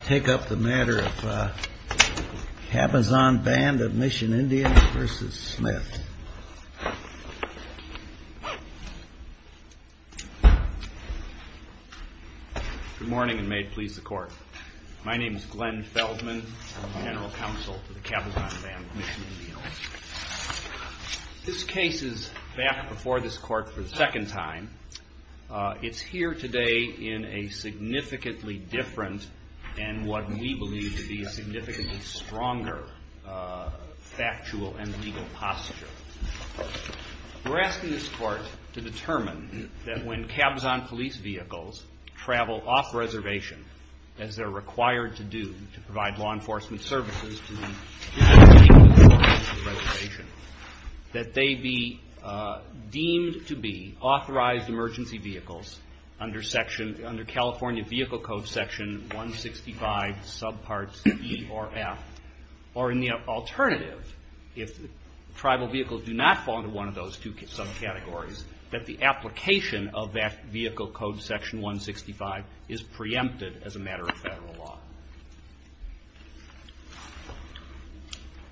Good morning and may it please the court. My name is Glenn Feldman, General Counsel to the Cabazon Band of Mission Indians. This case is back before this court for the second time. It's here today in a significantly different and different setting. And what we believe to be a significantly stronger factual and legal posture. We're asking this court to determine that when Cabazon police vehicles travel off-reservation, as they're required to do to provide law enforcement services, that they be deemed to be authorized emergency vehicles under California Vehicle Code Section 165.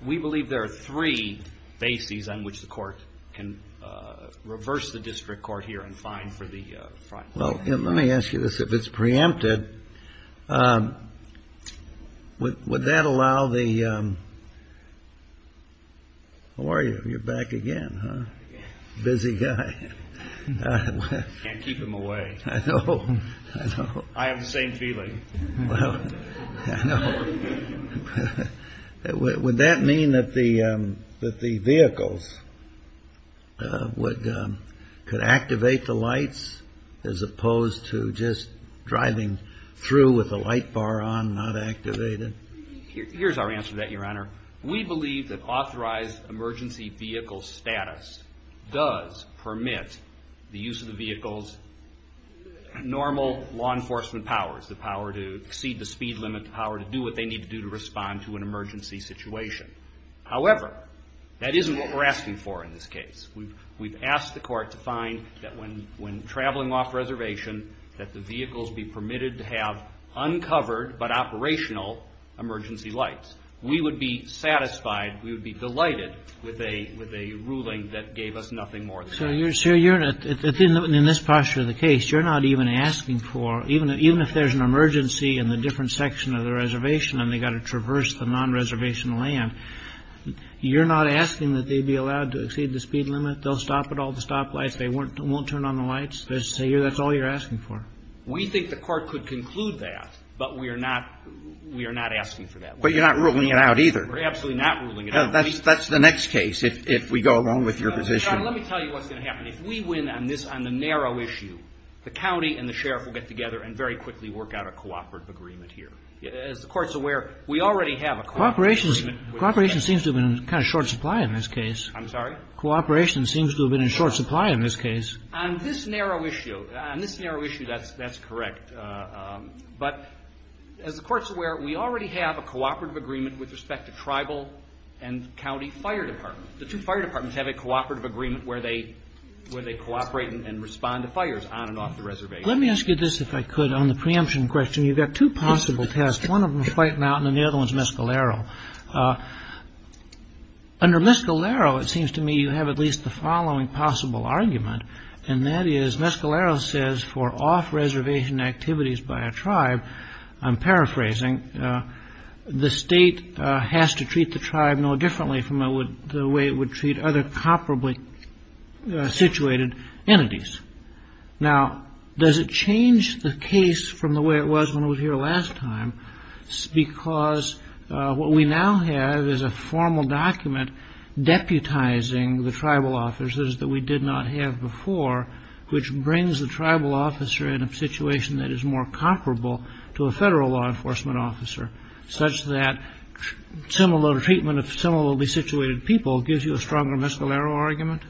We believe there are three bases on which the court can reverse the district court here and fine for the crime. Well, let me ask you this, if it's preempted, would that allow the, how are you? You're back again, huh? Busy guy. Can't keep him away. I know. I have the same feeling. Well, I know. Would that mean that the vehicles could activate the lights as opposed to just driving through with the light bar on, not activated? Here's our answer to that, Your Honor. We believe that authorized emergency vehicle status does permit the use of the vehicle's normal law enforcement powers, the power to exceed the speed limit, the power to do what they need to do to respond to an emergency situation. However, that isn't what we're asking for in this case. We've asked the court to find that when traveling off-reservation, that the vehicles be permitted to have uncovered but operational emergency lights. We would be satisfied, we would be delighted with a ruling that gave us nothing more than that. So, Your Honor, in this posture of the case, you're not even asking for, even if there's an emergency in the different section of the reservation and they've got to traverse the non-reservation land, you're not asking that they be allowed to exceed the speed limit, they'll stop at all the stoplights, they won't turn on the lights? That's all you're asking for? We think the court could conclude that, but we are not asking for that. But you're not ruling it out either. We're absolutely not ruling it out. That's the next case, if we go along with your position. Your Honor, let me tell you what's going to happen. If we win on this, on the narrow issue, the county and the sheriff will get together and very quickly work out a cooperative agreement here. As the Court's aware, we already have a cooperative agreement. Cooperation seems to have been in kind of short supply in this case. I'm sorry? Cooperation seems to have been in short supply in this case. On this narrow issue, on this narrow issue, that's correct. But as the Court's aware, we already have a cooperative agreement with respect to tribal and county fire departments. The two fire departments have a cooperative agreement where they cooperate and respond to fires on and off the reservation. Let me ask you this, if I could, on the preemption question. You've got two possible tests. One of them is White Mountain and the other one is Mescalero. Under Mescalero, it seems to me you have at least the following possible argument, and that is Mescalero says for off-reservation activities by a tribe, I'm paraphrasing, the state has to treat the tribe no differently from the way it would treat other comparably situated entities. Now, does it change the case from the way it was when it was here last time? Because what we now have is a formal document deputizing the tribal officers that we did not have before, which brings the tribal officer in a situation that is more comparable to a federal law enforcement officer, such that similar treatment of similarly situated people gives you a stronger Mescalero argument?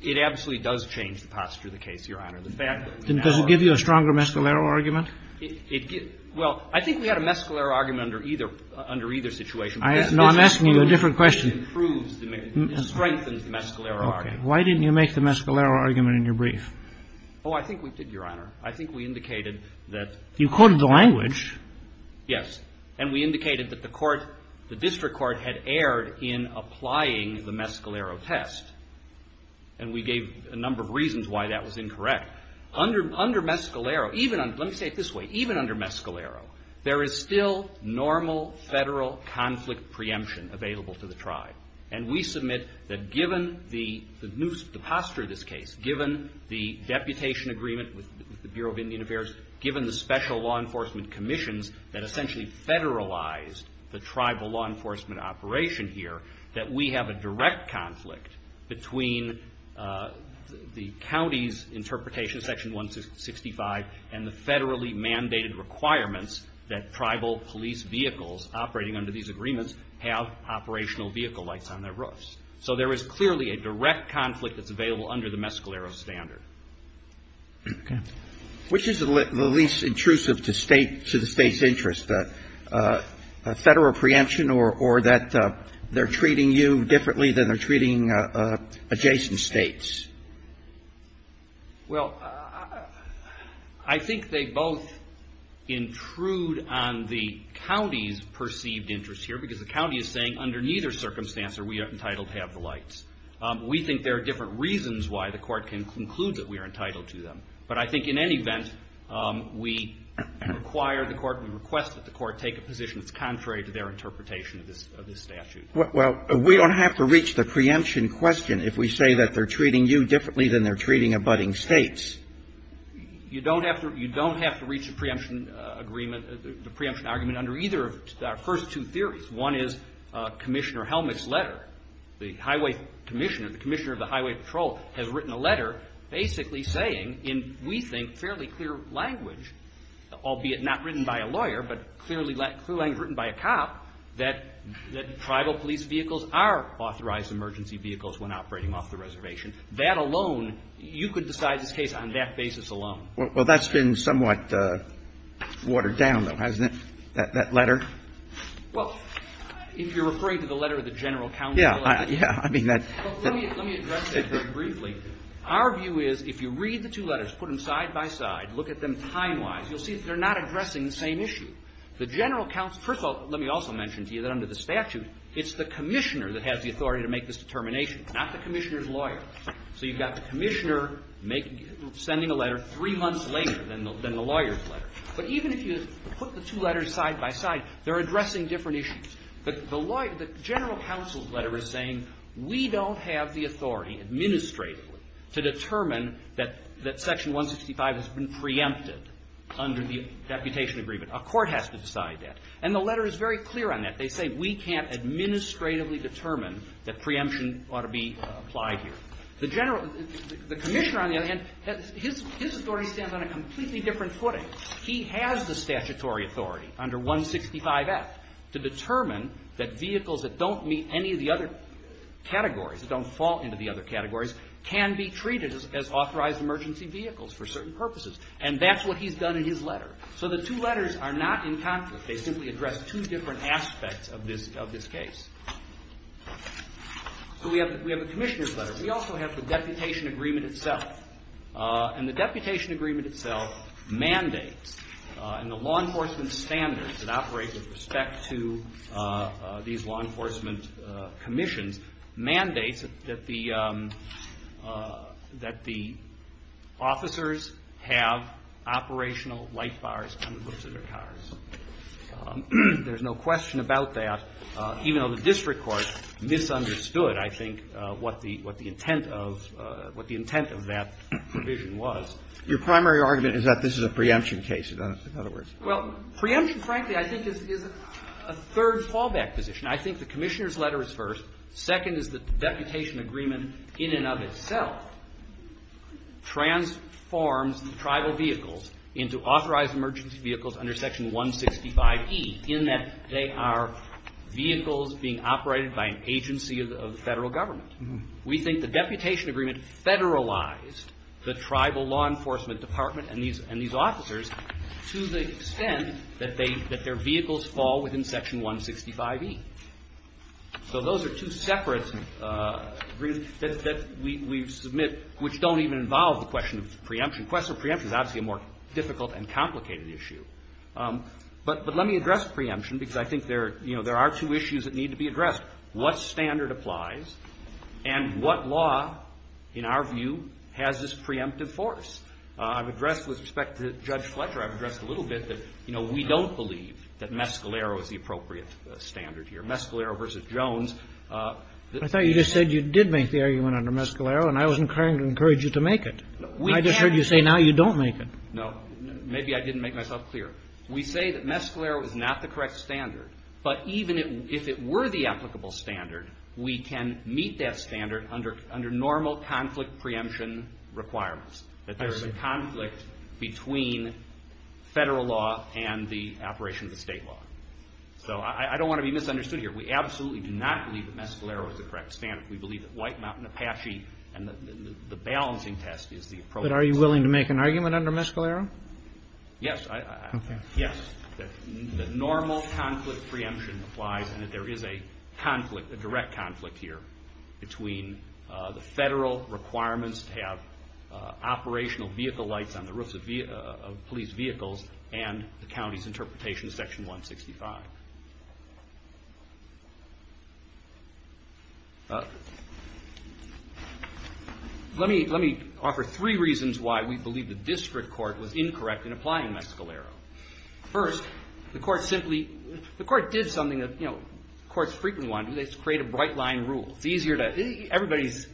It absolutely does change the posture of the case, Your Honor. Does it give you a stronger Mescalero argument? Well, I think we had a Mescalero argument under either situation. No, I'm asking you a different question. It strengthens the Mescalero argument. Okay. Why didn't you make the Mescalero argument in your brief? Oh, I think we did, Your Honor. I think we indicated that you could. You quoted the language. Yes. And we indicated that the court, the district court, had erred in applying the Mescalero test. And we gave a number of reasons why that was incorrect. Under Mescalero, even under, let me say it this way, even under Mescalero, there is still normal federal conflict preemption available to the tribe. And we submit that given the posture of this case, given the deputation agreement with the Bureau of Indian Affairs, given the special law enforcement commissions that essentially federalized the tribal law enforcement operation here, that we have a direct conflict between the county's interpretation, Section 165, and the federally mandated requirements that tribal police vehicles operating under these agreements have operational vehicle lights on their roofs. So there is clearly a direct conflict that's available under the Mescalero standard. Okay. Which is the least intrusive to the State's interest, a federal preemption or that they're treating you differently than they're treating adjacent States? Well, I think they both intrude on the county's perceived interest here, because the county is saying under neither circumstance are we entitled to have the lights. We think there are different reasons why the court can conclude that we are entitled to them. But I think in any event, we require the court, we request that the court take a position that's contrary to their interpretation of this statute. Well, we don't have to reach the preemption question if we say that they're treating you differently than they're treating abutting States. You don't have to reach the preemption agreement, the preemption argument, under either of our first two theories. One is Commissioner Helmick's letter. The highway commissioner, the commissioner of the highway patrol, has written a letter basically saying in, we think, fairly clear language, albeit not written by a lawyer, but clear language written by a cop, that tribal police vehicles are authorized emergency vehicles when operating off the reservation. That alone, you could decide this case on that basis alone. Well, that's been somewhat watered down, though, hasn't it, that letter? Well, if you're referring to the letter of the general counsel. Yeah. Yeah. I mean, that's... Let me address that very briefly. Our view is, if you read the two letters, put them side by side, look at them time-wise, you'll see that they're not addressing the same issue. The general counsel, first of all, let me also mention to you that under the statute, it's the commissioner that has the authority to make this determination, not the commissioner's lawyer. So you've got the commissioner sending a letter three months later than the lawyer's letter. But even if you put the two letters side by side, they're addressing different issues. The general counsel's letter is saying, we don't have the authority, administratively, to determine that Section 165 has been preempted under the deputation agreement. A court has to decide that. And the letter is very clear on that. They say, we can't administratively determine that preemption ought to be applied here. The commissioner, on the other hand, his authority stands on a completely different footing. He has the statutory authority under 165F to determine that vehicles that don't meet any of the other categories, that don't fall into the other categories, can be treated as authorized emergency vehicles for certain purposes. And that's what he's done in his letter. So the two letters are not in conflict. They simply address two different aspects of this case. So we have the commissioner's letter. We also have the deputation agreement itself. And the deputation agreement itself mandates, and the law enforcement standards that operate with respect to these law enforcement commissions, mandates that the officers have operational light bars on the hooves of their cars. There's no question about that, even though the district court misunderstood, I think, what the intent of that was. Your primary argument is that this is a preemption case, in other words. Well, preemption, frankly, I think, is a third fallback position. I think the commissioner's letter is first. Second is that the deputation agreement in and of itself transforms the tribal vehicles into authorized emergency vehicles under Section 165E, in that they are vehicles being operated by an agency of the Federal Government. We think the deputation agreement federalized the tribal law enforcement department and these officers to the extent that their vehicles fall within Section 165E. So those are two separate agreements that we submit, which don't even involve the question of preemption. The question of preemption is obviously a more difficult and complicated issue. But let me address preemption, because I think there are two issues that need to be addressed. First, what standard applies, and what law, in our view, has this preemptive force? I've addressed with respect to Judge Fletcher, I've addressed a little bit that, you know, we don't believe that Mescalero is the appropriate standard here. Mescalero v. Jones. I thought you just said you did make the argument under Mescalero, and I was encouraging you to make it. I just heard you say now you don't make it. No. Maybe I didn't make myself clear. We say that Mescalero is not the correct standard, but even if it were the applicable standard, we can meet that standard under normal conflict preemption requirements, that there is a conflict between federal law and the operation of the state law. So I don't want to be misunderstood here. We absolutely do not believe that Mescalero is the correct standard. We believe that White Mountain Apache and the balancing test is the appropriate standard. But are you willing to make an argument under Mescalero? Yes. Okay. Yes. The normal conflict preemption applies and that there is a conflict, a direct conflict here, between the federal requirements to have operational vehicle lights on the roofs of police vehicles and the county's interpretation of Section 165. Let me offer three reasons why we believe the district court was incorrect in applying Mescalero. First, the court simply, the court did something that courts frequently want to do. They create a bright line rule. It's easier to, everybody's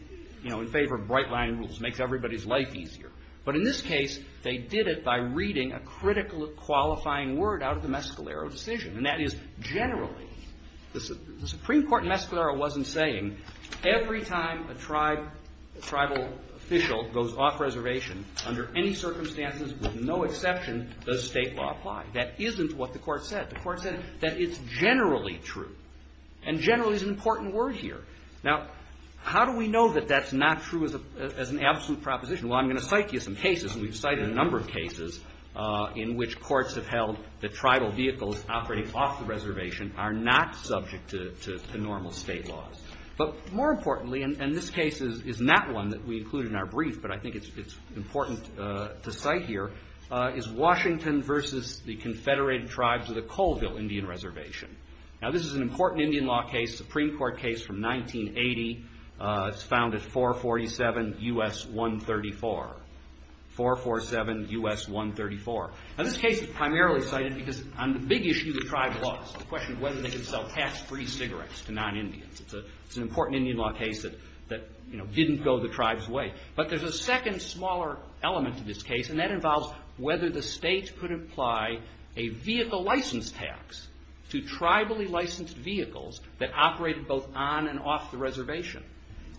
in favor of bright line rules. It makes everybody's life easier. But in this case, they did it by reading a critical qualifying word out of the Mescalero decision, and that is generally. The Supreme Court in Mescalero wasn't saying every time a tribal official goes off reservation, under any circumstances, with no exception, does State law apply. That isn't what the court said. The court said that it's generally true. And generally is an important word here. Now, how do we know that that's not true as an absolute proposition? Well, I'm going to cite to you some cases, and we've cited a number of cases, in which courts have held that tribal vehicles operating off the reservation are not subject to normal State laws. But more importantly, and this case is not one that we include in our brief, but I think it's important to cite here, is Washington versus the Confederated Tribes of the Colville Indian Reservation. Now, this is an important Indian law case, Supreme Court case from 1980. It's found at 447 U.S. 134. 447 U.S. 134. Now, this case is primarily cited because on the big issue of tribal laws, the question of whether they could sell tax-free cigarettes to non-Indians. It's an important Indian law case that didn't go the tribe's way. But there's a second, smaller element to this case, and that involves whether the State could apply a vehicle license tax to tribally licensed vehicles that operated both on and off the reservation.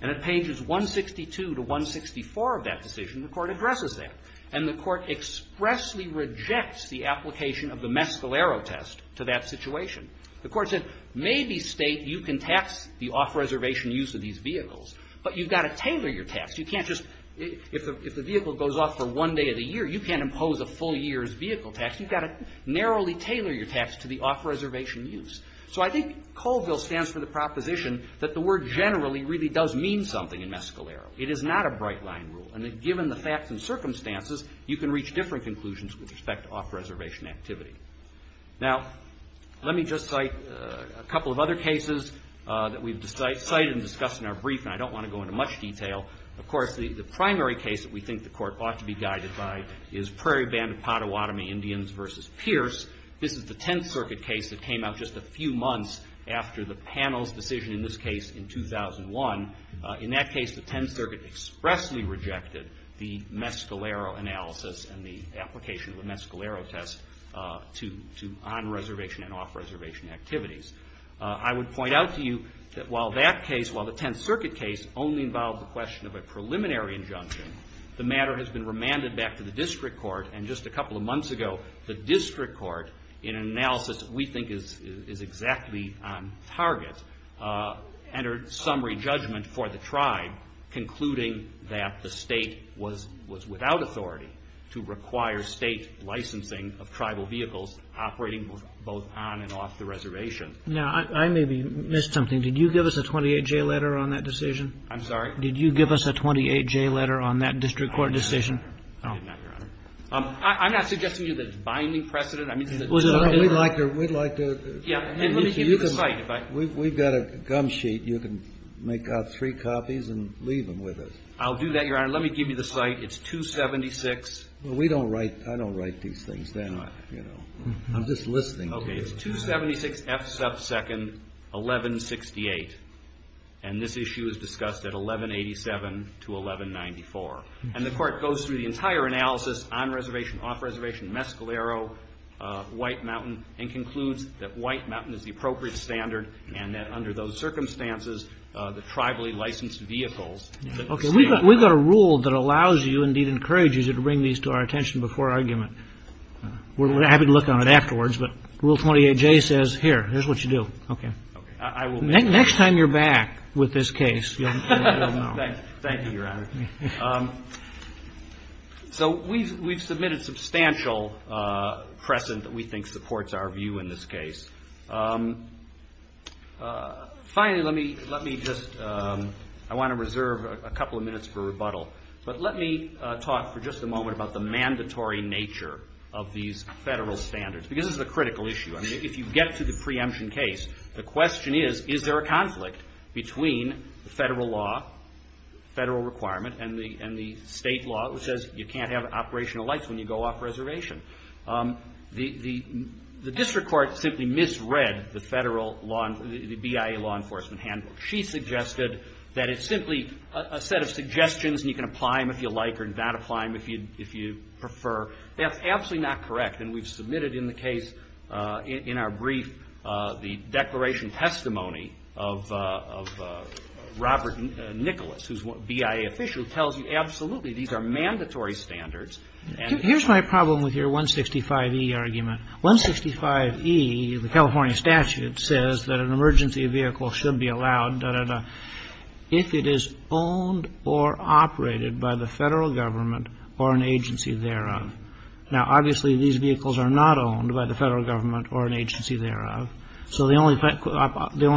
And at pages 162 to 164 of that decision, the Court addresses that. And the Court expressly rejects the application of the Mescalero test to that situation. The Court said, maybe, State, you can tax the off-reservation use of these vehicles, but you've got to tailor your tax. You can't just, if the vehicle goes off for one day of the year, you can't impose a full year's vehicle tax. You've got to narrowly tailor your tax to the off-reservation use. So I think Colville stands for the proposition that the word generally really does mean something in Mescalero. It is not a bright-line rule, and that given the facts and circumstances, you can reach different conclusions with respect to off-reservation activity. Now, let me just cite a couple of other cases that we've cited and discussed in our brief, and I don't want to go into much detail. Of course, the primary case that we think the Court ought to be guided by is Prairie Band of Pottawatomie Indians v. Pierce. This is the Tenth Circuit case that came out just a few months after the panel's decision in this case in 2001. In that case, the Tenth Circuit expressly rejected the Mescalero analysis and the application of the Mescalero test to on-reservation and off-reservation activities. I would point out to you that while that case, while the Tenth Circuit case only involved the question of a preliminary injunction, the matter has been remanded back to the District Court, and just a couple of months ago, the District Court, in an analysis we think is exactly on target, entered summary judgment for the Tribe, concluding that the State was without authority to require State licensing of tribal vehicles operating both on and off the reservation. Now, I maybe missed something. Did you give us a 28-J letter on that decision? I'm sorry? Did you give us a 28-J letter on that District Court decision? I did not, Your Honor. I'm not suggesting to you that it's binding precedent. We'd like to – Yeah. And let me give you the site. We've got a gum sheet. You can make out three copies and leave them with us. I'll do that, Your Honor. Let me give you the site. It's 276. Well, we don't write – I don't write these things down, you know. I'm just listening to you. Okay. It's 276 F sub 2nd 1168. And this issue is discussed at 1187 to 1194. And the Court goes through the entire analysis on reservation, off reservation, Mescalero, White Mountain, and concludes that White Mountain is the appropriate standard and that under those circumstances, the tribally licensed vehicles that we're seeing on – Okay. We've got a rule that allows you, indeed encourages you, to bring these to our attention before argument. We're happy to look on it afterwards, but Rule 28-J says, here, here's what you do. Okay. Okay. I will – Next time you're back with this case, you'll know. Thank you, Your Honor. So we've submitted substantial precedent that we think supports our view in this case. Finally, let me just – I want to reserve a couple of minutes for rebuttal. But let me talk for just a moment about the mandatory nature of these federal standards, because this is a critical issue. I mean, if you get to the preemption case, the question is, is there a conflict between the federal law, federal requirement, and the state law, which says you can't have operational lights when you go off reservation? The district court simply misread the federal law – the BIA law enforcement handbook. She suggested that it's simply a set of suggestions, and you can apply them if you like or not apply them if you prefer. That's absolutely not correct, and we've submitted in the case, in our brief, the Robert Nicholas, who's a BIA official, who tells you absolutely these are mandatory standards. Here's my problem with your 165E argument. 165E, the California statute, says that an emergency vehicle should be allowed, da-da-da, if it is owned or operated by the federal government or an agency thereof. Now, obviously, these vehicles are not owned by the federal government or an agency thereof. So the only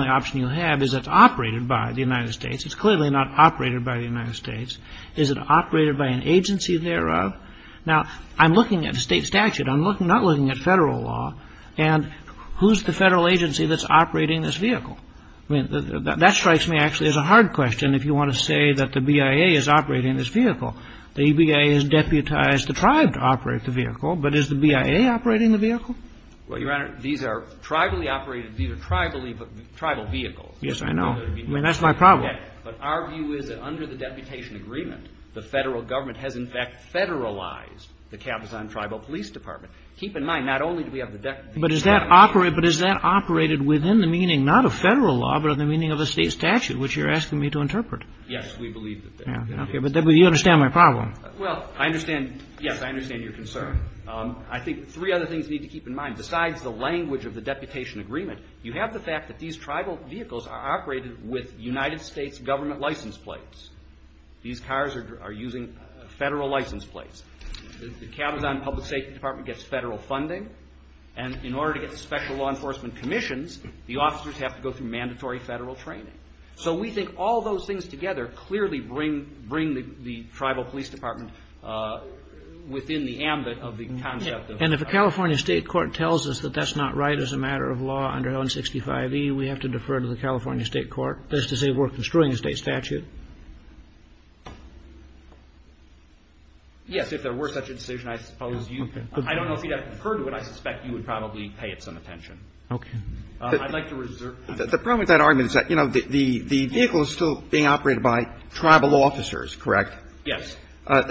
option you have is it's operated by the United States. It's clearly not operated by the United States. Is it operated by an agency thereof? Now, I'm looking at a state statute. I'm not looking at federal law. And who's the federal agency that's operating this vehicle? That strikes me, actually, as a hard question, if you want to say that the BIA is operating this vehicle. The BIA has deputized the tribe to operate the vehicle, but is the BIA operating the vehicle? Well, Your Honor, these are tribally operated. These are tribal vehicles. Yes, I know. I mean, that's my problem. Okay. But our view is that under the deputation agreement, the federal government has, in fact, federalized the Cabazon Tribal Police Department. Keep in mind, not only do we have the deputation agreement. But is that operated within the meaning, not of federal law, but of the meaning of a state statute, which you're asking me to interpret? Yes, we believe that. Okay. But you understand my problem. Well, I understand. Yes, I understand your concern. I think three other things you need to keep in mind. Besides the language of the deputation agreement, you have the fact that these tribal vehicles are operated with United States government license plates. These cars are using federal license plates. The Cabazon Public Safety Department gets federal funding. And in order to get special law enforcement commissions, the officers have to go through mandatory federal training. So we think all those things together clearly bring the tribal police department within the ambit of the concept of federal law enforcement. And if a California state court tells us that that's not right as a matter of law under 165e, we have to defer to the California state court. That's to say, we're construing a state statute. Yes. If there were such a decision, I suppose you could. I don't know if you'd have conferred to it. I suspect you would probably pay it some attention. Okay. I'd like to reserve time. The problem with that argument is that, you know, the vehicle is still being operated by tribal officers, correct? Yes.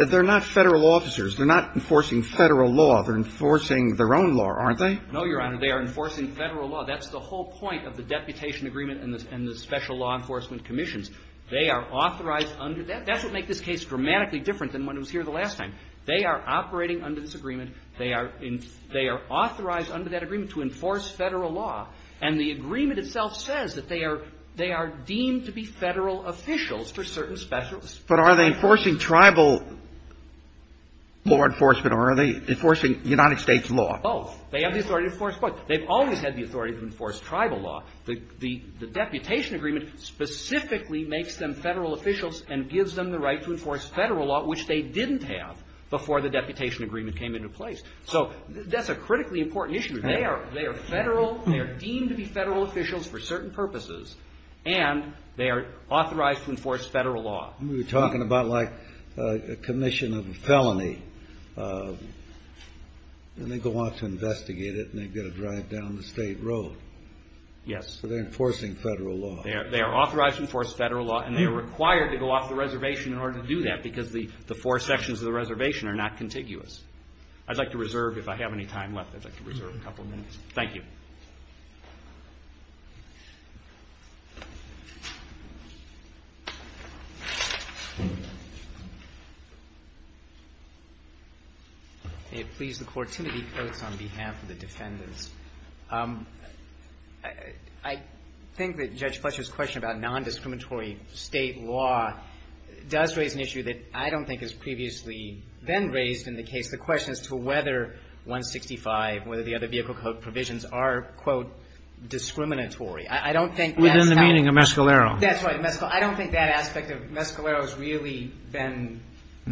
They're not federal officers. They're not enforcing federal law. They're enforcing their own law, aren't they? No, Your Honor. They are enforcing federal law. That's the whole point of the deputation agreement and the special law enforcement commissions. They are authorized under that. That's what makes this case dramatically different than when it was here the last time. They are operating under this agreement. They are authorized under that agreement to enforce federal law. And the agreement itself says that they are deemed to be federal officials for certain specials. But are they enforcing tribal law enforcement or are they enforcing United States law? Both. They have the authority to enforce both. They've always had the authority to enforce tribal law. The deputation agreement specifically makes them federal officials and gives them the right to enforce federal law, which they didn't have before the deputation agreement came into place. So that's a critically important issue. They are federal. They are deemed to be federal officials for certain purposes. And they are authorized to enforce federal law. We were talking about like a commission of a felony. And they go on to investigate it and they get a drive down the state road. Yes. So they're enforcing federal law. They are authorized to enforce federal law and they are required to go off the reservation in order to do that because the four sections of the reservation are not contiguous. I'd like to reserve, if I have any time left, I'd like to reserve a couple of minutes. Thank you. May it please the Court. Timothy Coates on behalf of the defendants. I think that Judge Fletcher's question about nondiscriminatory state law does raise an issue that I don't think has previously been raised in the case. The question is to whether 165, whether the other vehicle code provisions are, quote, discriminatory. I don't think that's that. Within the meaning of Mescalero. That's right. I don't think that aspect of Mescalero has really been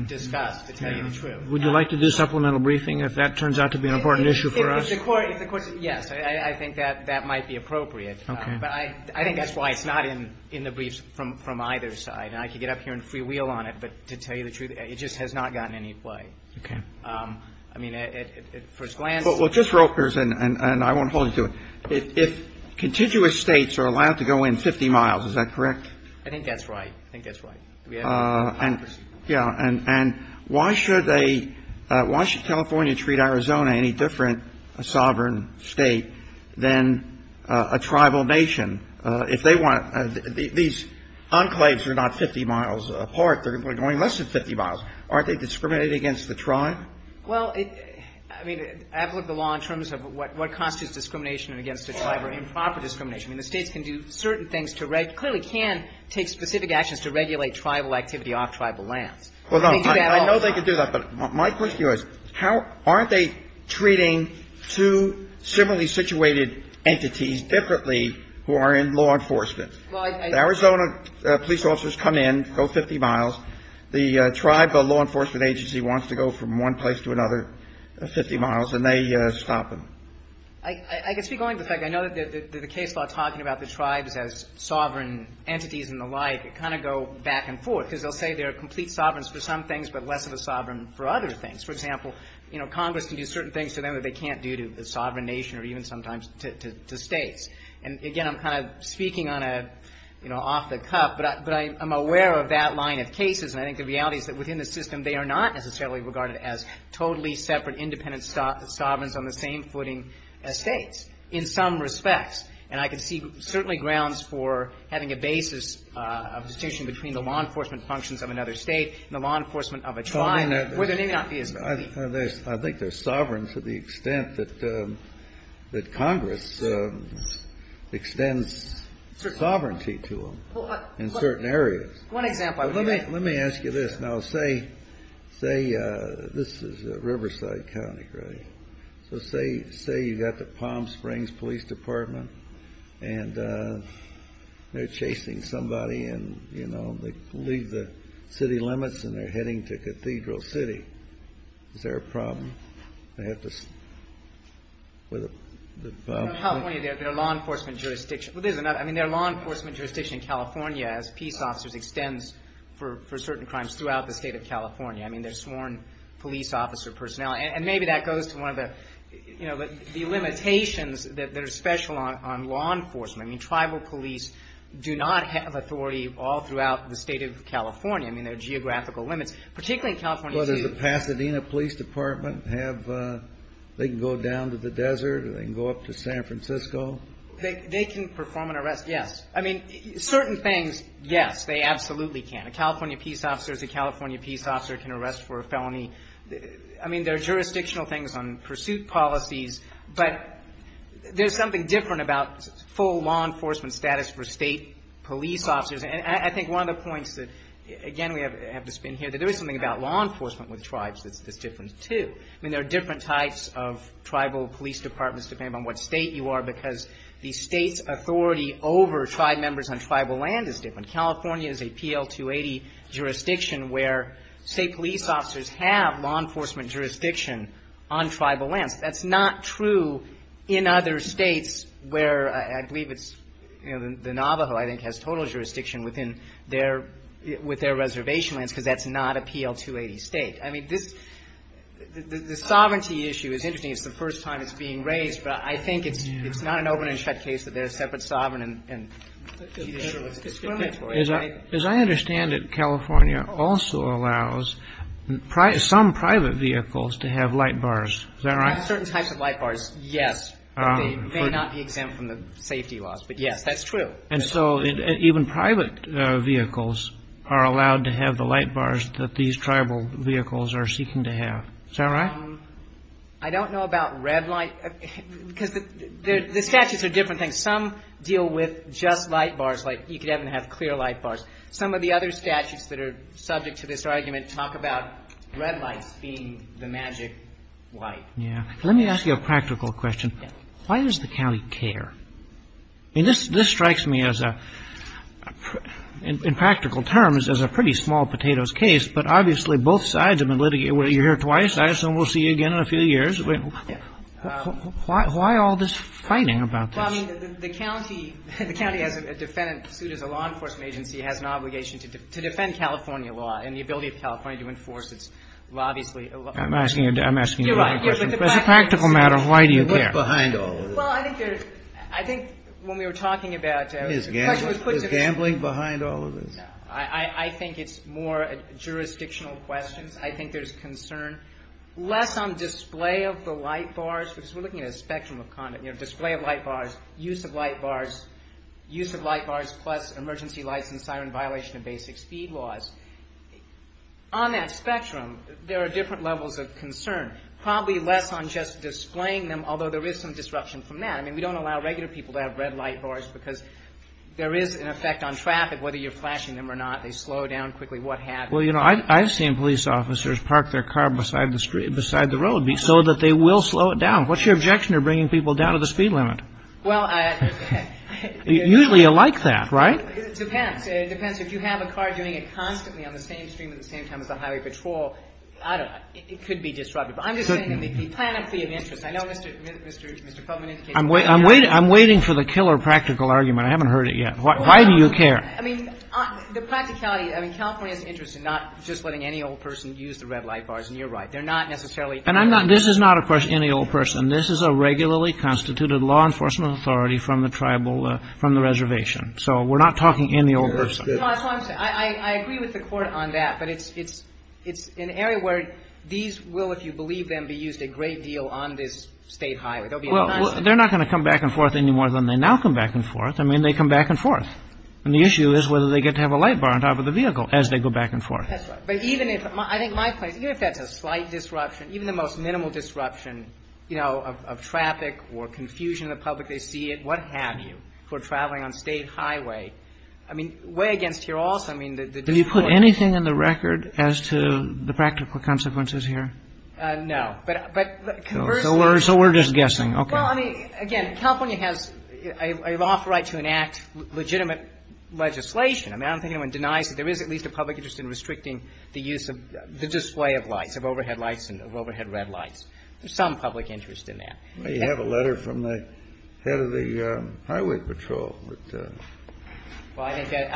discussed, to tell you the truth. Would you like to do supplemental briefing if that turns out to be an important issue for us? If the Court, yes. I think that that might be appropriate. Okay. But I think that's why it's not in the briefs from either side. And I could get up here and free wheel on it, but to tell you the truth, it just has not gotten any play. Okay. I mean, at first glance. Well, just real quick, and I won't hold you to it. If contiguous States are allowed to go in 50 miles, is that correct? I think that's right. I think that's right. Yeah. And why should they, why should California treat Arizona any different, a sovereign State, than a tribal nation? If they want, these enclaves are not 50 miles apart. They're going less than 50 miles. Aren't they discriminating against the tribe? Well, I mean, I've looked at the law in terms of what constitutes discrimination against the tribe or improper discrimination. I mean, the States can do certain things to regulate. Clearly can take specific actions to regulate tribal activity off tribal lands. Well, no. I know they can do that. But my question to you is how aren't they treating two similarly situated entities differently who are in law enforcement? The Arizona police officers come in, go 50 miles. The tribe law enforcement agency wants to go from one place to another 50 miles, and they stop them. I can speak only to the fact that I know that the case law talking about the tribes as sovereign entities and the like kind of go back and forth, because they'll say they're complete sovereigns for some things but less of a sovereign for other things. For example, you know, Congress can do certain things to them that they can't do to the sovereign nation or even sometimes to States. And again, I'm kind of speaking on a, you know, off the cuff, but I'm aware of that line of cases. And I think the reality is that within the system they are not necessarily regarded as totally separate independent sovereigns on the same footing as States in some respects. And I can see certainly grounds for having a basis of distinction between the law enforcement functions of another State and the law enforcement of a tribe where there may not be as many. I think they're sovereign to the extent that Congress extends sovereignty to them in certain areas. Let me ask you this. Now, say this is Riverside County, right? So say you've got the Palm Springs Police Department, and they're chasing somebody and, you know, they leave the city limits and they're heading to Cathedral City. Is there a problem? I have to see where the problem is. In California, there are law enforcement jurisdictions. Well, there's another. I mean, there are law enforcement jurisdictions in California as peace officers extends for certain crimes throughout the State of California. I mean, there's sworn police officer personnel. And maybe that goes to one of the, you know, the limitations that are special on law enforcement. I mean, tribal police do not have authority all throughout the State of California. I mean, there are geographical limits, particularly in California. Well, does the Pasadena Police Department have – they can go down to the desert or they can go up to San Francisco? They can perform an arrest, yes. I mean, certain things, yes, they absolutely can. A California peace officer is a California peace officer who can arrest for a felony. I mean, there are jurisdictional things on pursuit policies. But there's something different about full law enforcement status for State police officers. And I think one of the points that, again, we have to spin here, that there is something about law enforcement with tribes that's different, too. I mean, there are different types of tribal police departments depending on what State you are because the State's authority over tribe members on tribal land is different. California is a PL-280 jurisdiction where State police officers have law enforcement jurisdiction on tribal lands. That's not true in other States where I believe it's, you know, the Navajo, I think, has total jurisdiction within their – with their reservation lands because that's not a PL-280 State. I mean, this – the sovereignty issue is interesting. It's the first time it's being raised. But I think it's not an open and shut case that they're a separate sovereign and – As I understand it, California also allows some private vehicles to have light bars. Is that right? Certain types of light bars, yes. But they may not be exempt from the safety laws. But, yes, that's true. And so even private vehicles are allowed to have the light bars that these tribal vehicles are seeking to have. Is that right? I don't know about red light because the statutes are different things. Some deal with just light bars, like you could have them have clear light bars. Some of the other statutes that are subject to this argument talk about red lights being the magic light. Yes. Let me ask you a practical question. Why does the county care? I mean, this strikes me as a – in practical terms, as a pretty small potatoes case, but obviously both sides have been litigated. You're here twice. I assume we'll see you again in a few years. Why all this fighting about this? Well, I mean, the county – the county has a defendant suit as a law enforcement agency has an obligation to defend California law and the ability of California to enforce its obviously – I'm asking a different question. You're right. But the practical – It's a practical matter. Why do you care? Behind all of this. Well, I think there's – I think when we were talking about – Is gambling behind all of this? No. I think it's more jurisdictional questions. I think there's concern. Less on display of the light bars, because we're looking at a spectrum of conduct. You know, display of light bars, use of light bars, use of light bars plus emergency lights and siren violation of basic speed laws. On that spectrum, there are different levels of concern. Probably less on just displaying them, although there is some disruption from that. I mean, we don't allow regular people to have red light bars because there is an effect on traffic, whether you're flashing them or not. They slow down quickly. What happens? Well, you know, I've seen police officers park their car beside the road so that they will slow it down. What's your objection to bringing people down to the speed limit? Well, I – Usually you like that, right? It depends. It depends. If you have a car doing it constantly on the same stream at the same time as I'm waiting for the killer practical argument. I haven't heard it yet. Why do you care? I mean, the practicality. I mean, California is interested in not just letting any old person use the red light bars, and you're right. They're not necessarily And I'm not – this is not a question of any old person. This is a regularly constituted law enforcement authority from the tribal – from the reservation. So we're not talking any old person. No, that's what I'm saying. I agree with the Court on that, but it's an area where these will, if you believe them, be used a great deal on this State Highway. They'll be a nice – Well, they're not going to come back and forth any more than they now come back and forth. I mean, they come back and forth. And the issue is whether they get to have a light bar on top of the vehicle as they go back and forth. That's right. But even if – I think my point is even if that's a slight disruption, even the most minimal disruption, you know, of traffic or confusion in the public, they see it, what have you, for traveling on State Highway. I mean, way against here also. I mean, the – Did you put anything in the record as to the practical consequences here? No. But conversely – So we're just guessing. Okay. Well, I mean, again, California has a lawful right to enact legitimate legislation. I mean, I don't think anyone denies that there is at least a public interest in restricting the use of the display of lights, of overhead lights and overhead red lights. There's some public interest in that. You have a letter from the head of the Highway Patrol. Well, I think that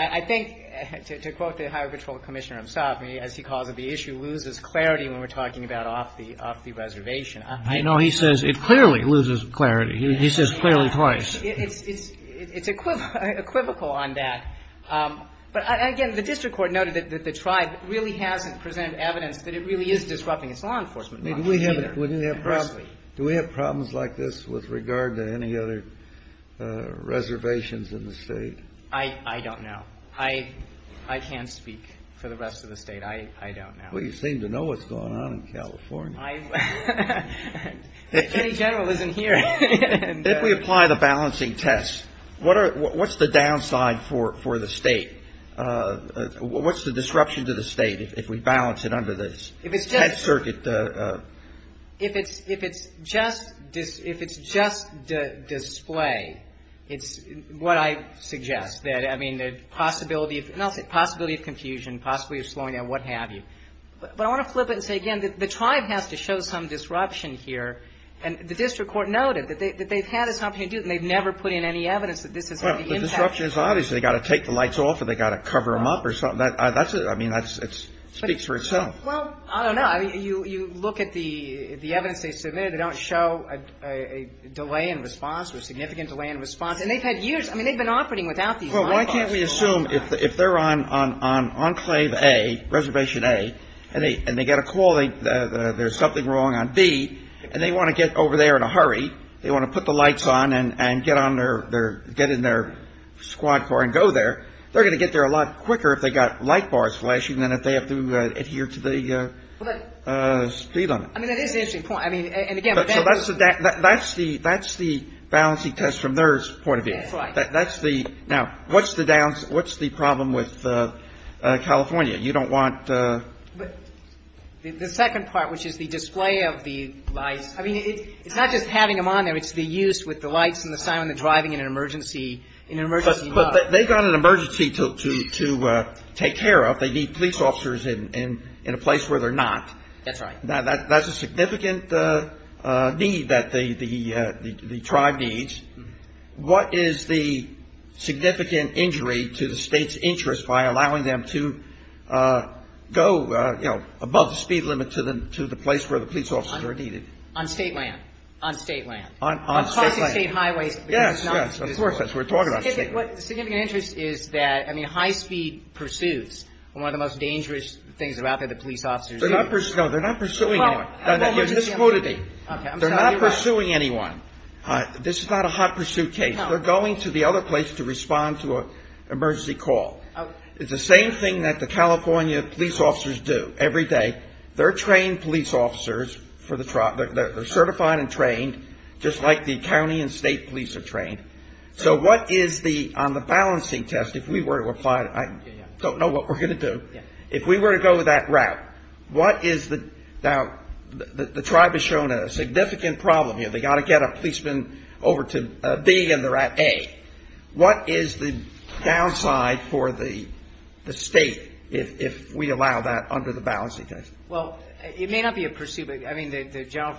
– I think, to quote the Highway Patrol Commissioner himself, loses clarity when we're talking about off the reservation. No, he says it clearly loses clarity. He says clearly twice. It's equivocal on that. But, again, the district court noted that the tribe really hasn't presented evidence that it really is disrupting its law enforcement policy either. Do we have problems like this with regard to any other reservations in the State? I don't know. I can't speak for the rest of the State. I don't know. Well, you seem to know what's going on in California. The Attorney General isn't here. If we apply the balancing test, what's the downside for the State? What's the disruption to the State if we balance it under this head circuit? If it's just display, it's what I suggest. I mean, the possibility of confusion, possibly of slowing down, what have you. But I want to flip it and say, again, the tribe has to show some disruption here. And the district court noted that they've had this opportunity to do it, and they've never put in any evidence that this has had any impact. Well, the disruption is obvious. They've got to take the lights off or they've got to cover them up or something. I mean, that speaks for itself. Well, I don't know. You look at the evidence they submitted. They don't show a delay in response or a significant delay in response. And they've had years. I mean, they've been operating without these light bars. Well, why can't we assume if they're on Enclave A, Reservation A, and they get a call that there's something wrong on B, and they want to get over there in a hurry, they want to put the lights on and get in their squad car and go there, they're going to get there a lot quicker if they've got light bars flashing than if they have to adhere to the speed limit. I mean, that is an interesting point. I mean, and, again, that's the balancing test from their point of view. That's right. Now, what's the problem with California? You don't want to – The second part, which is the display of the lights, I mean, it's not just having them on there. It's the use with the lights and the siren and the driving in an emergency mode. But they've got an emergency to take care of. They need police officers in a place where they're not. That's right. That's a significant need that the tribe needs. What is the significant injury to the state's interest by allowing them to go, you know, above the speed limit to the place where the police officers are needed? On state land. On state land. On state land. Across the state highways. Yes, yes, of course. That's what we're talking about. The significant interest is that, I mean, high-speed pursuits are one of the most dangerous things that are out there that police officers do. No, they're not pursuing anyone. You just quoted me. They're not pursuing anyone. This is not a hot pursuit case. They're going to the other place to respond to an emergency call. It's the same thing that the California police officers do every day. They're trained police officers for the tribe. They're certified and trained, just like the county and state police are trained. So what is the, on the balancing test, if we were to apply it, I don't know what we're going to do. If we were to go that route, what is the, now the tribe has shown a significant problem here. They've got to get a policeman over to B and they're at A. What is the downside for the state if we allow that under the balancing test? Well, it may not be a pursuit, but, I mean, the general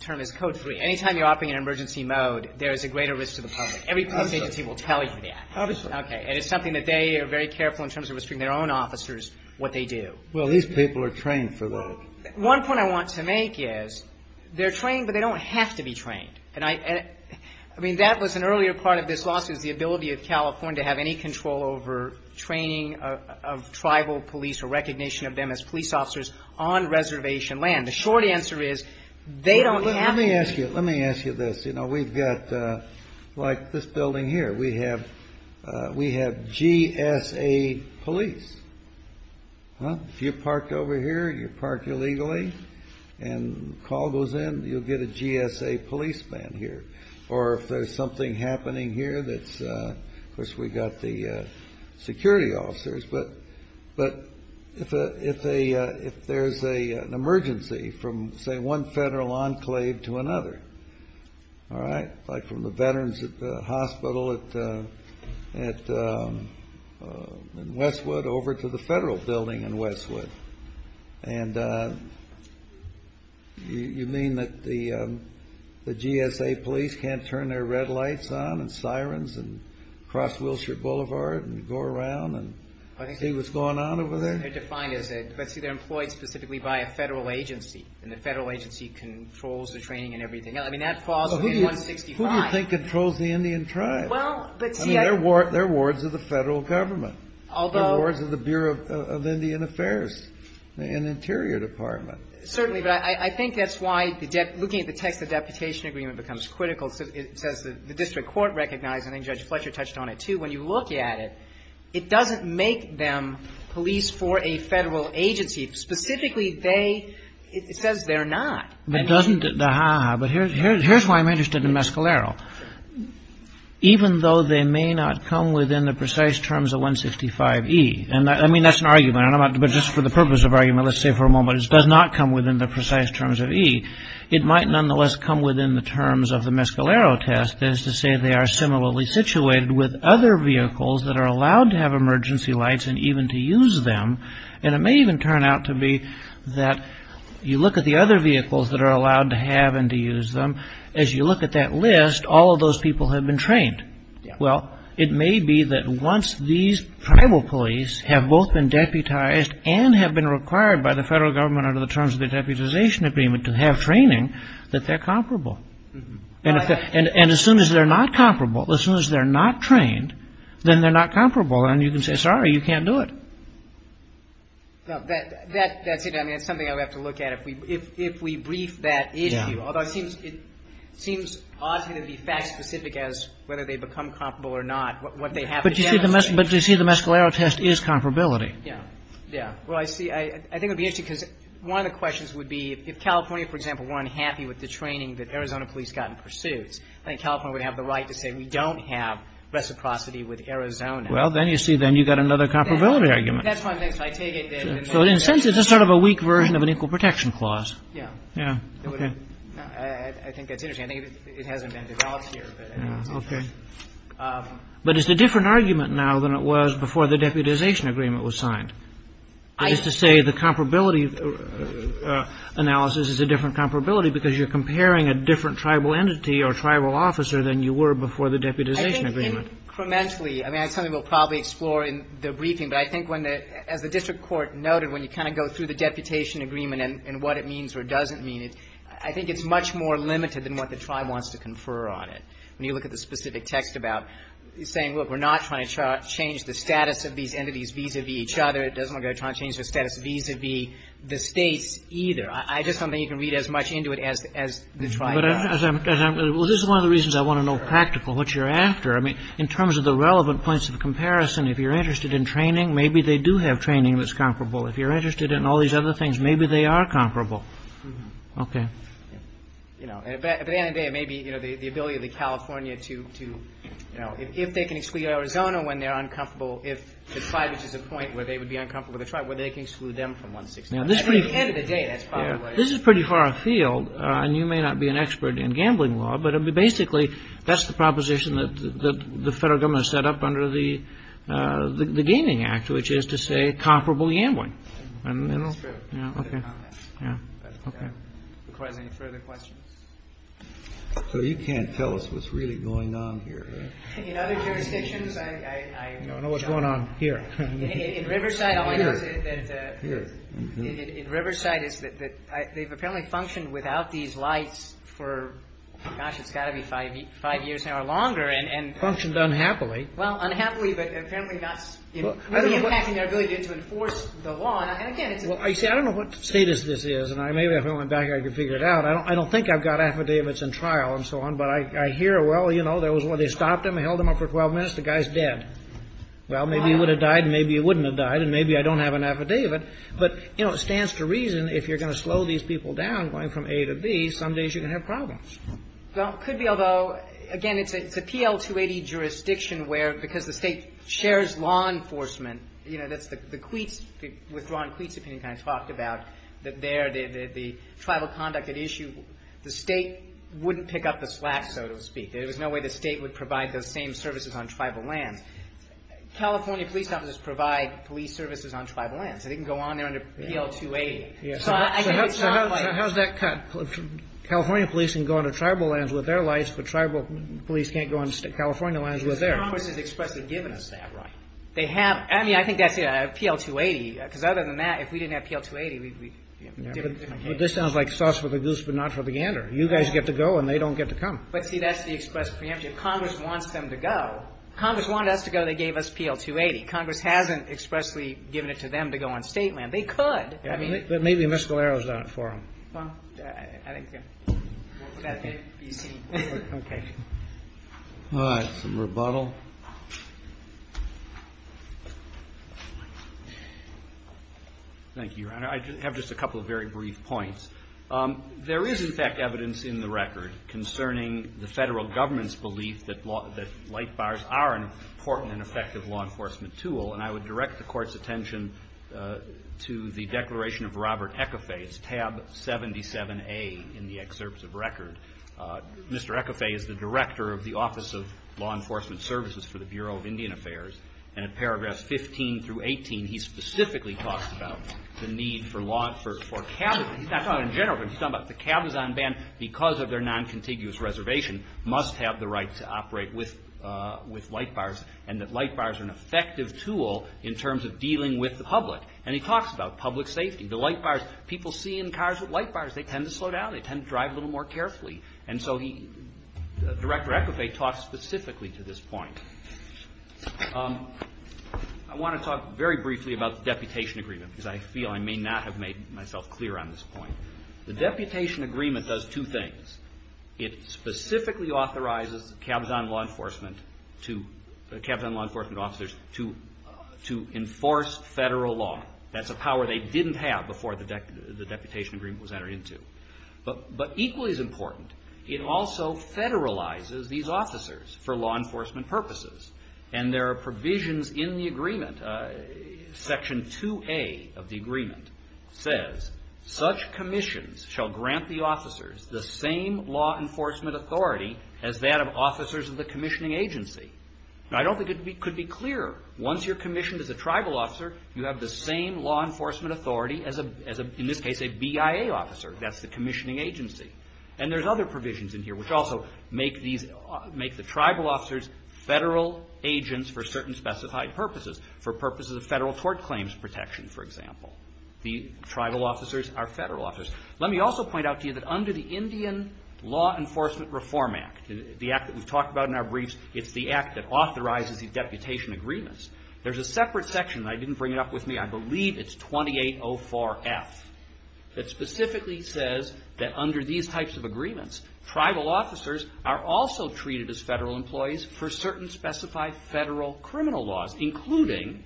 term is Code 3. Anytime you're operating in emergency mode, there is a greater risk to the public. Every police agency will tell you that. And it's something that they are very careful in terms of restricting their own officers what they do. Well, these people are trained for that. One point I want to make is they're trained, but they don't have to be trained. And I mean, that was an earlier part of this lawsuit is the ability of California to have any control over training of tribal police or recognition of them as police officers on reservation land. The short answer is they don't have to. Let me ask you this. You know, we've got, like this building here, we have GSA police. If you're parked over here, you're parked illegally, and a call goes in, you'll get a GSA policeman here. Or if there's something happening here that's, of course, we've got the security officers. But if there's an emergency from, say, one federal enclave to another, all right, like from the veterans at the hospital in Westwood over to the federal building in Westwood, and you mean that the GSA police can't turn their red lights on and sirens and cross Wilshire Boulevard and go around and see what's going on over there? They're defined as a ‑‑ but, see, they're employed specifically by a federal agency, and the federal agency controls the training and everything else. I mean, that falls within 165. Who do you think controls the Indian tribe? Well, but, see, I ‑‑ I mean, they're wards of the federal government. Although ‑‑ They're wards of the Bureau of Indian Affairs, an interior department. Certainly, but I think that's why looking at the text of the deputation agreement becomes critical. It says the district court recognized, and I think Judge Fletcher touched on it, too, when you look at it, it doesn't make them police for a federal agency. Specifically, they ‑‑ it says they're not. But doesn't the ‑‑ but here's why I'm interested in Mescalero. Even though they may not come within the precise terms of 165E, and I mean, that's an argument, but just for the purpose of argument, let's say for a moment, it does not come within the precise terms of E, it might nonetheless come within the terms of the Mescalero test, as to say they are similarly situated with other vehicles that are allowed to have emergency lights and even to use them. And it may even turn out to be that you look at the other vehicles that are allowed to have and to use them, as you look at that list, all of those people have been trained. Well, it may be that once these tribal police have both been deputized and have been required by the federal government under the terms of the deputization agreement to have training, that they're comparable. And as soon as they're not comparable, as soon as they're not trained, then they're not comparable and you can say, sorry, you can't do it. That's it. I mean, it's something I would have to look at if we brief that issue. Although it seems odd to me to be fact specific as whether they become comparable or not, what they have to demonstrate. But you see the Mescalero test is comparability. Yeah. Well, I see. I think it would be interesting because one of the questions would be if California, for example, weren't happy with the training that Arizona police got in pursuits, I think California would have the right to say we don't have reciprocity with Arizona. Well, then you see then you've got another comparability argument. That's what I'm saying. So in a sense it's just sort of a weak version of an equal protection clause. Yeah. Yeah. Okay. I think that's interesting. I think it hasn't been developed here. Okay. But it's a different argument now than it was before the deputization agreement was signed. That is to say the comparability analysis is a different comparability because you're comparing a different tribal entity or tribal officer than you were before the deputization agreement. I think incrementally, I mean, that's something we'll probably explore in the briefing, but I think as the district court noted when you kind of go through the deputation agreement and what it means or doesn't mean, I think it's much more limited than what the tribe wants to confer on it. When you look at the specific text about saying, look, we're not trying to change the status of these entities vis-a-vis each other. It doesn't look like they're trying to change their status vis-a-vis the states either. I just don't think you can read as much into it as the tribe does. Well, this is one of the reasons I want to know practical what you're after. I mean, in terms of the relevant points of comparison, if you're interested in training, maybe they do have training that's comparable. If you're interested in all these other things, maybe they are comparable. Okay. At the end of the day, it may be the ability of the California to, you know, if they can exclude Arizona when they're uncomfortable, if the tribe reaches a point where they would be uncomfortable with the tribe, where they can exclude them from 160. At the end of the day, that's probably what it is. This is pretty far afield, and you may not be an expert in gambling law, but basically that's the proposition that the federal government set up under the Gaming Act, which is to say comparable gambling. That's true. Okay. If you have any further questions. So you can't tell us what's really going on here. In other jurisdictions, I don't know what's going on here. In Riverside, all I know is that they've apparently functioned without these lights for, gosh, it's got to be five years now or longer. Functioned unhappily. Well, unhappily, but apparently not really impacting their ability to enforce the law. Well, you see, I don't know what status this is, and maybe if I went back I could figure it out. I don't think I've got affidavits in trial and so on, but I hear, well, you know, they stopped him, held him up for 12 minutes, the guy's dead. Well, maybe he would have died, maybe he wouldn't have died, and maybe I don't have an affidavit. But, you know, it stands to reason if you're going to slow these people down going from A to B, some days you're going to have problems. Well, it could be, although, again, it's a PL-280 jurisdiction where, because the state shares law enforcement, you know, that's the Queets, the withdrawn Queets opinion kind of talked about that there the tribal conduct at issue, the state wouldn't pick up the slack, so to speak. There was no way the state would provide those same services on tribal lands. California police officers provide police services on tribal lands. They can go on there under PL-280. So, again, it's not like. So how's that cut? California police can go on to tribal lands with their lights, but tribal police can't go on to California lands with theirs. Congress has expressly given us that right. They have. I mean, I think that's PL-280, because other than that, if we didn't have PL-280, we'd be in different cases. Well, this sounds like sauce for the goose but not for the gander. You guys get to go, and they don't get to come. But, see, that's the express preemptive. Congress wants them to go. Congress wanted us to go. They gave us PL-280. Congress hasn't expressly given it to them to go on state land. They could. I mean. But maybe Ms. Galera's not for them. Well, I think. Okay. All right. Some rebuttal. Thank you, Your Honor. I have just a couple of very brief points. There is, in fact, evidence in the record concerning the Federal Government's belief that light bars are an important and effective law enforcement tool, and I would direct the Court's attention to the declaration of Robert Ecafé. It's tab 77A in the excerpts of record. Mr. Ecafé is the Director of the Office of Law Enforcement Services for the Bureau of Indian Affairs, and in paragraphs 15 through 18, he specifically talks about the need for cabins. He's not talking in general terms. He's talking about the cabins on ban because of their non-contiguous reservation must have the right to operate with light bars, and that light bars are an effective tool in terms of dealing with the public. And he talks about public safety. The light bars. People see in cars with light bars. They tend to slow down. They tend to drive a little more carefully, and so Director Ecafé talks specifically to this point. I want to talk very briefly about the deputation agreement because I feel I may not have made myself clear on this point. The deputation agreement does two things. It specifically authorizes the cabins on law enforcement officers to enforce federal law. That's a power they didn't have before the deputation agreement was entered into. But equally as important, it also federalizes these officers for law enforcement purposes, and there are provisions in the agreement. Section 2A of the agreement says, such commissions shall grant the officers the same law enforcement authority as that of officers of the commissioning agency. Now, I don't think it could be clearer. Once you're commissioned as a tribal officer, you have the same law enforcement authority as, in this case, a BIA officer. That's the commissioning agency. And there's other provisions in here which also make the tribal officers federal agents for certain specified purposes, for purposes of federal tort claims protection, for example. The tribal officers are federal officers. Let me also point out to you that under the Indian Law Enforcement Reform Act, the act that we've talked about in our briefs, it's the act that authorizes the deputation agreements. There's a separate section, and I didn't bring it up with me, I believe it's 2804F, that specifically says that under these types of agreements, tribal officers are also treated as federal employees for certain specified federal criminal laws, including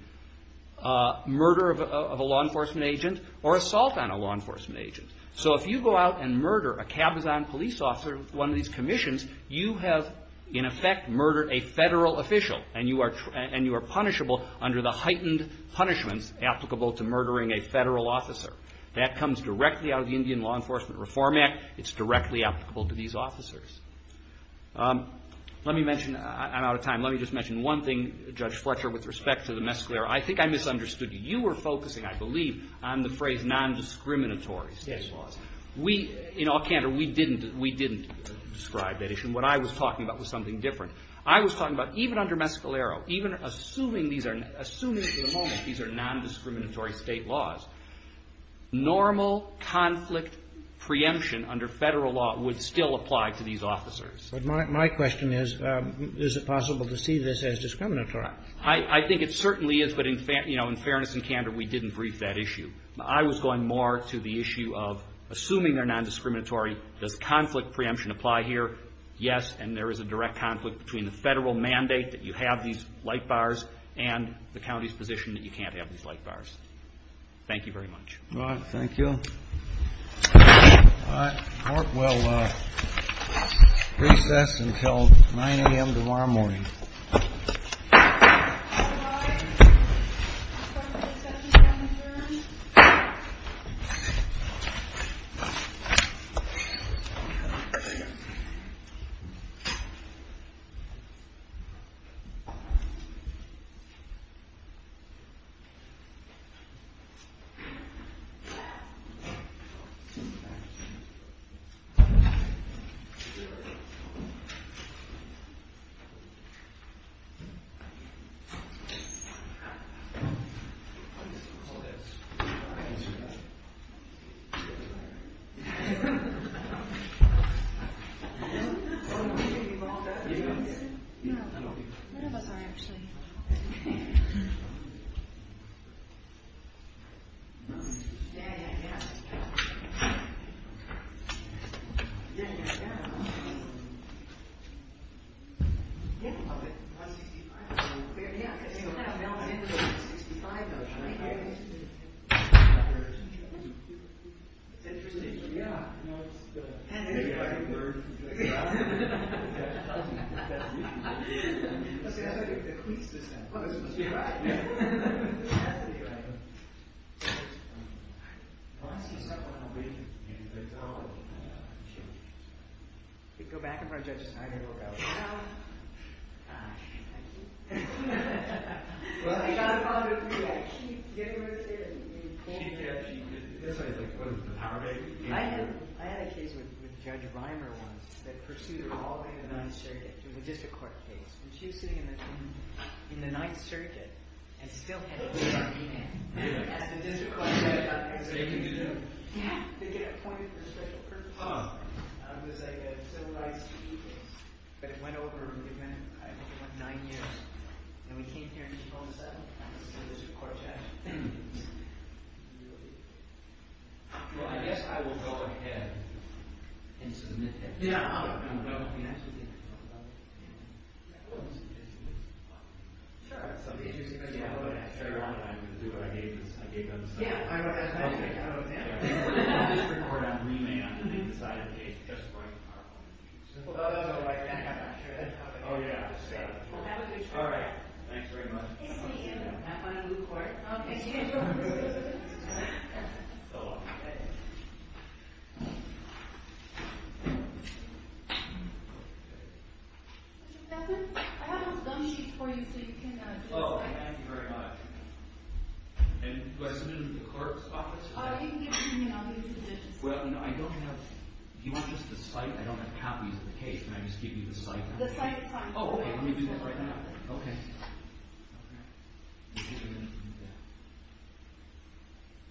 murder of a law enforcement agent or assault on a law enforcement agent. So if you go out and murder a Cabazon police officer with one of these commissions, you have, in effect, murdered a federal official, and you are punishable under the heightened punishments applicable to murdering a federal officer. That comes directly out of the Indian Law Enforcement Reform Act. It's directly applicable to these officers. Let me mention, I'm out of time, let me just mention one thing, Judge Fletcher, with respect to the Mescalero. I think I misunderstood you. You were focusing, I believe, on the phrase non-discriminatory state laws. We, in all candor, we didn't describe that issue, and what I was talking about was something different. I was talking about even under Mescalero, even assuming these are, assuming at the moment these are non-discriminatory state laws, normal conflict preemption under Federal law would still apply to these officers. But my question is, is it possible to see this as discriminatory? I think it certainly is, but in, you know, in fairness and candor, we didn't brief that issue. I was going more to the issue of, assuming they're non-discriminatory, does conflict preemption apply here? Yes, and there is a direct conflict between the Federal mandate that you have these light bars and the county's position that you can't have these light bars. Thank you very much. All right. Thank you. All right. Court will recess until 9 a.m. tomorrow morning. All rise. Court will recess until 9 a.m. Thank you. 165? Yeah. 165. Interesting. Yeah. If I could learn. That's the question. That's the question. Oh, this must be right. That must be right. 165. I'm sorry. Go back in front of Judge Snyder. Well, I got a call from her. She gave me a call. She did? Yes, I did. What was it? The power baby? I had a case with Judge Reimer once that pursued her all the way to the 9th Circuit. It was a district court case. And she was sitting in the 9th Circuit and still had a book in her hand. As the district court judge on the 8th Circuit. They get appointed for special purposes. It was a civilized case. But it went over in a minute. It went nine years. And we came here in 2007 as a district court judge. Really? Well, I guess I will go ahead and submit that. Yeah, I'll go ahead and do that. You can actually talk about it. Yeah. I wouldn't submit it to you. Sure. It's up to you. It's up to everyone. I'm going to do what I need to do. Yeah. I was going to say that. Okay. I'll just record on re-may on the 8th and side of the case. Just for the record. Oh, that's all right. I'm not sure that's how it is. Oh, yeah. Well, have a good trip. All right. Thanks very much. Nice to meet you. Have fun in Newport. Oh, thank you. You too. So long. Good. Mr. Beckman, I have a gum sheet for you so you can. Oh, thank you very much. And do I submit it to the clerk's office? Oh, you can give it to me. I'll give you the conditions. Well, no, I don't have. Do you want just the site? I don't have copies of the case. Can I just give you the site? The site is fine. Oh, okay. Let me do that right now. Okay. Okay. Okay. Yeah.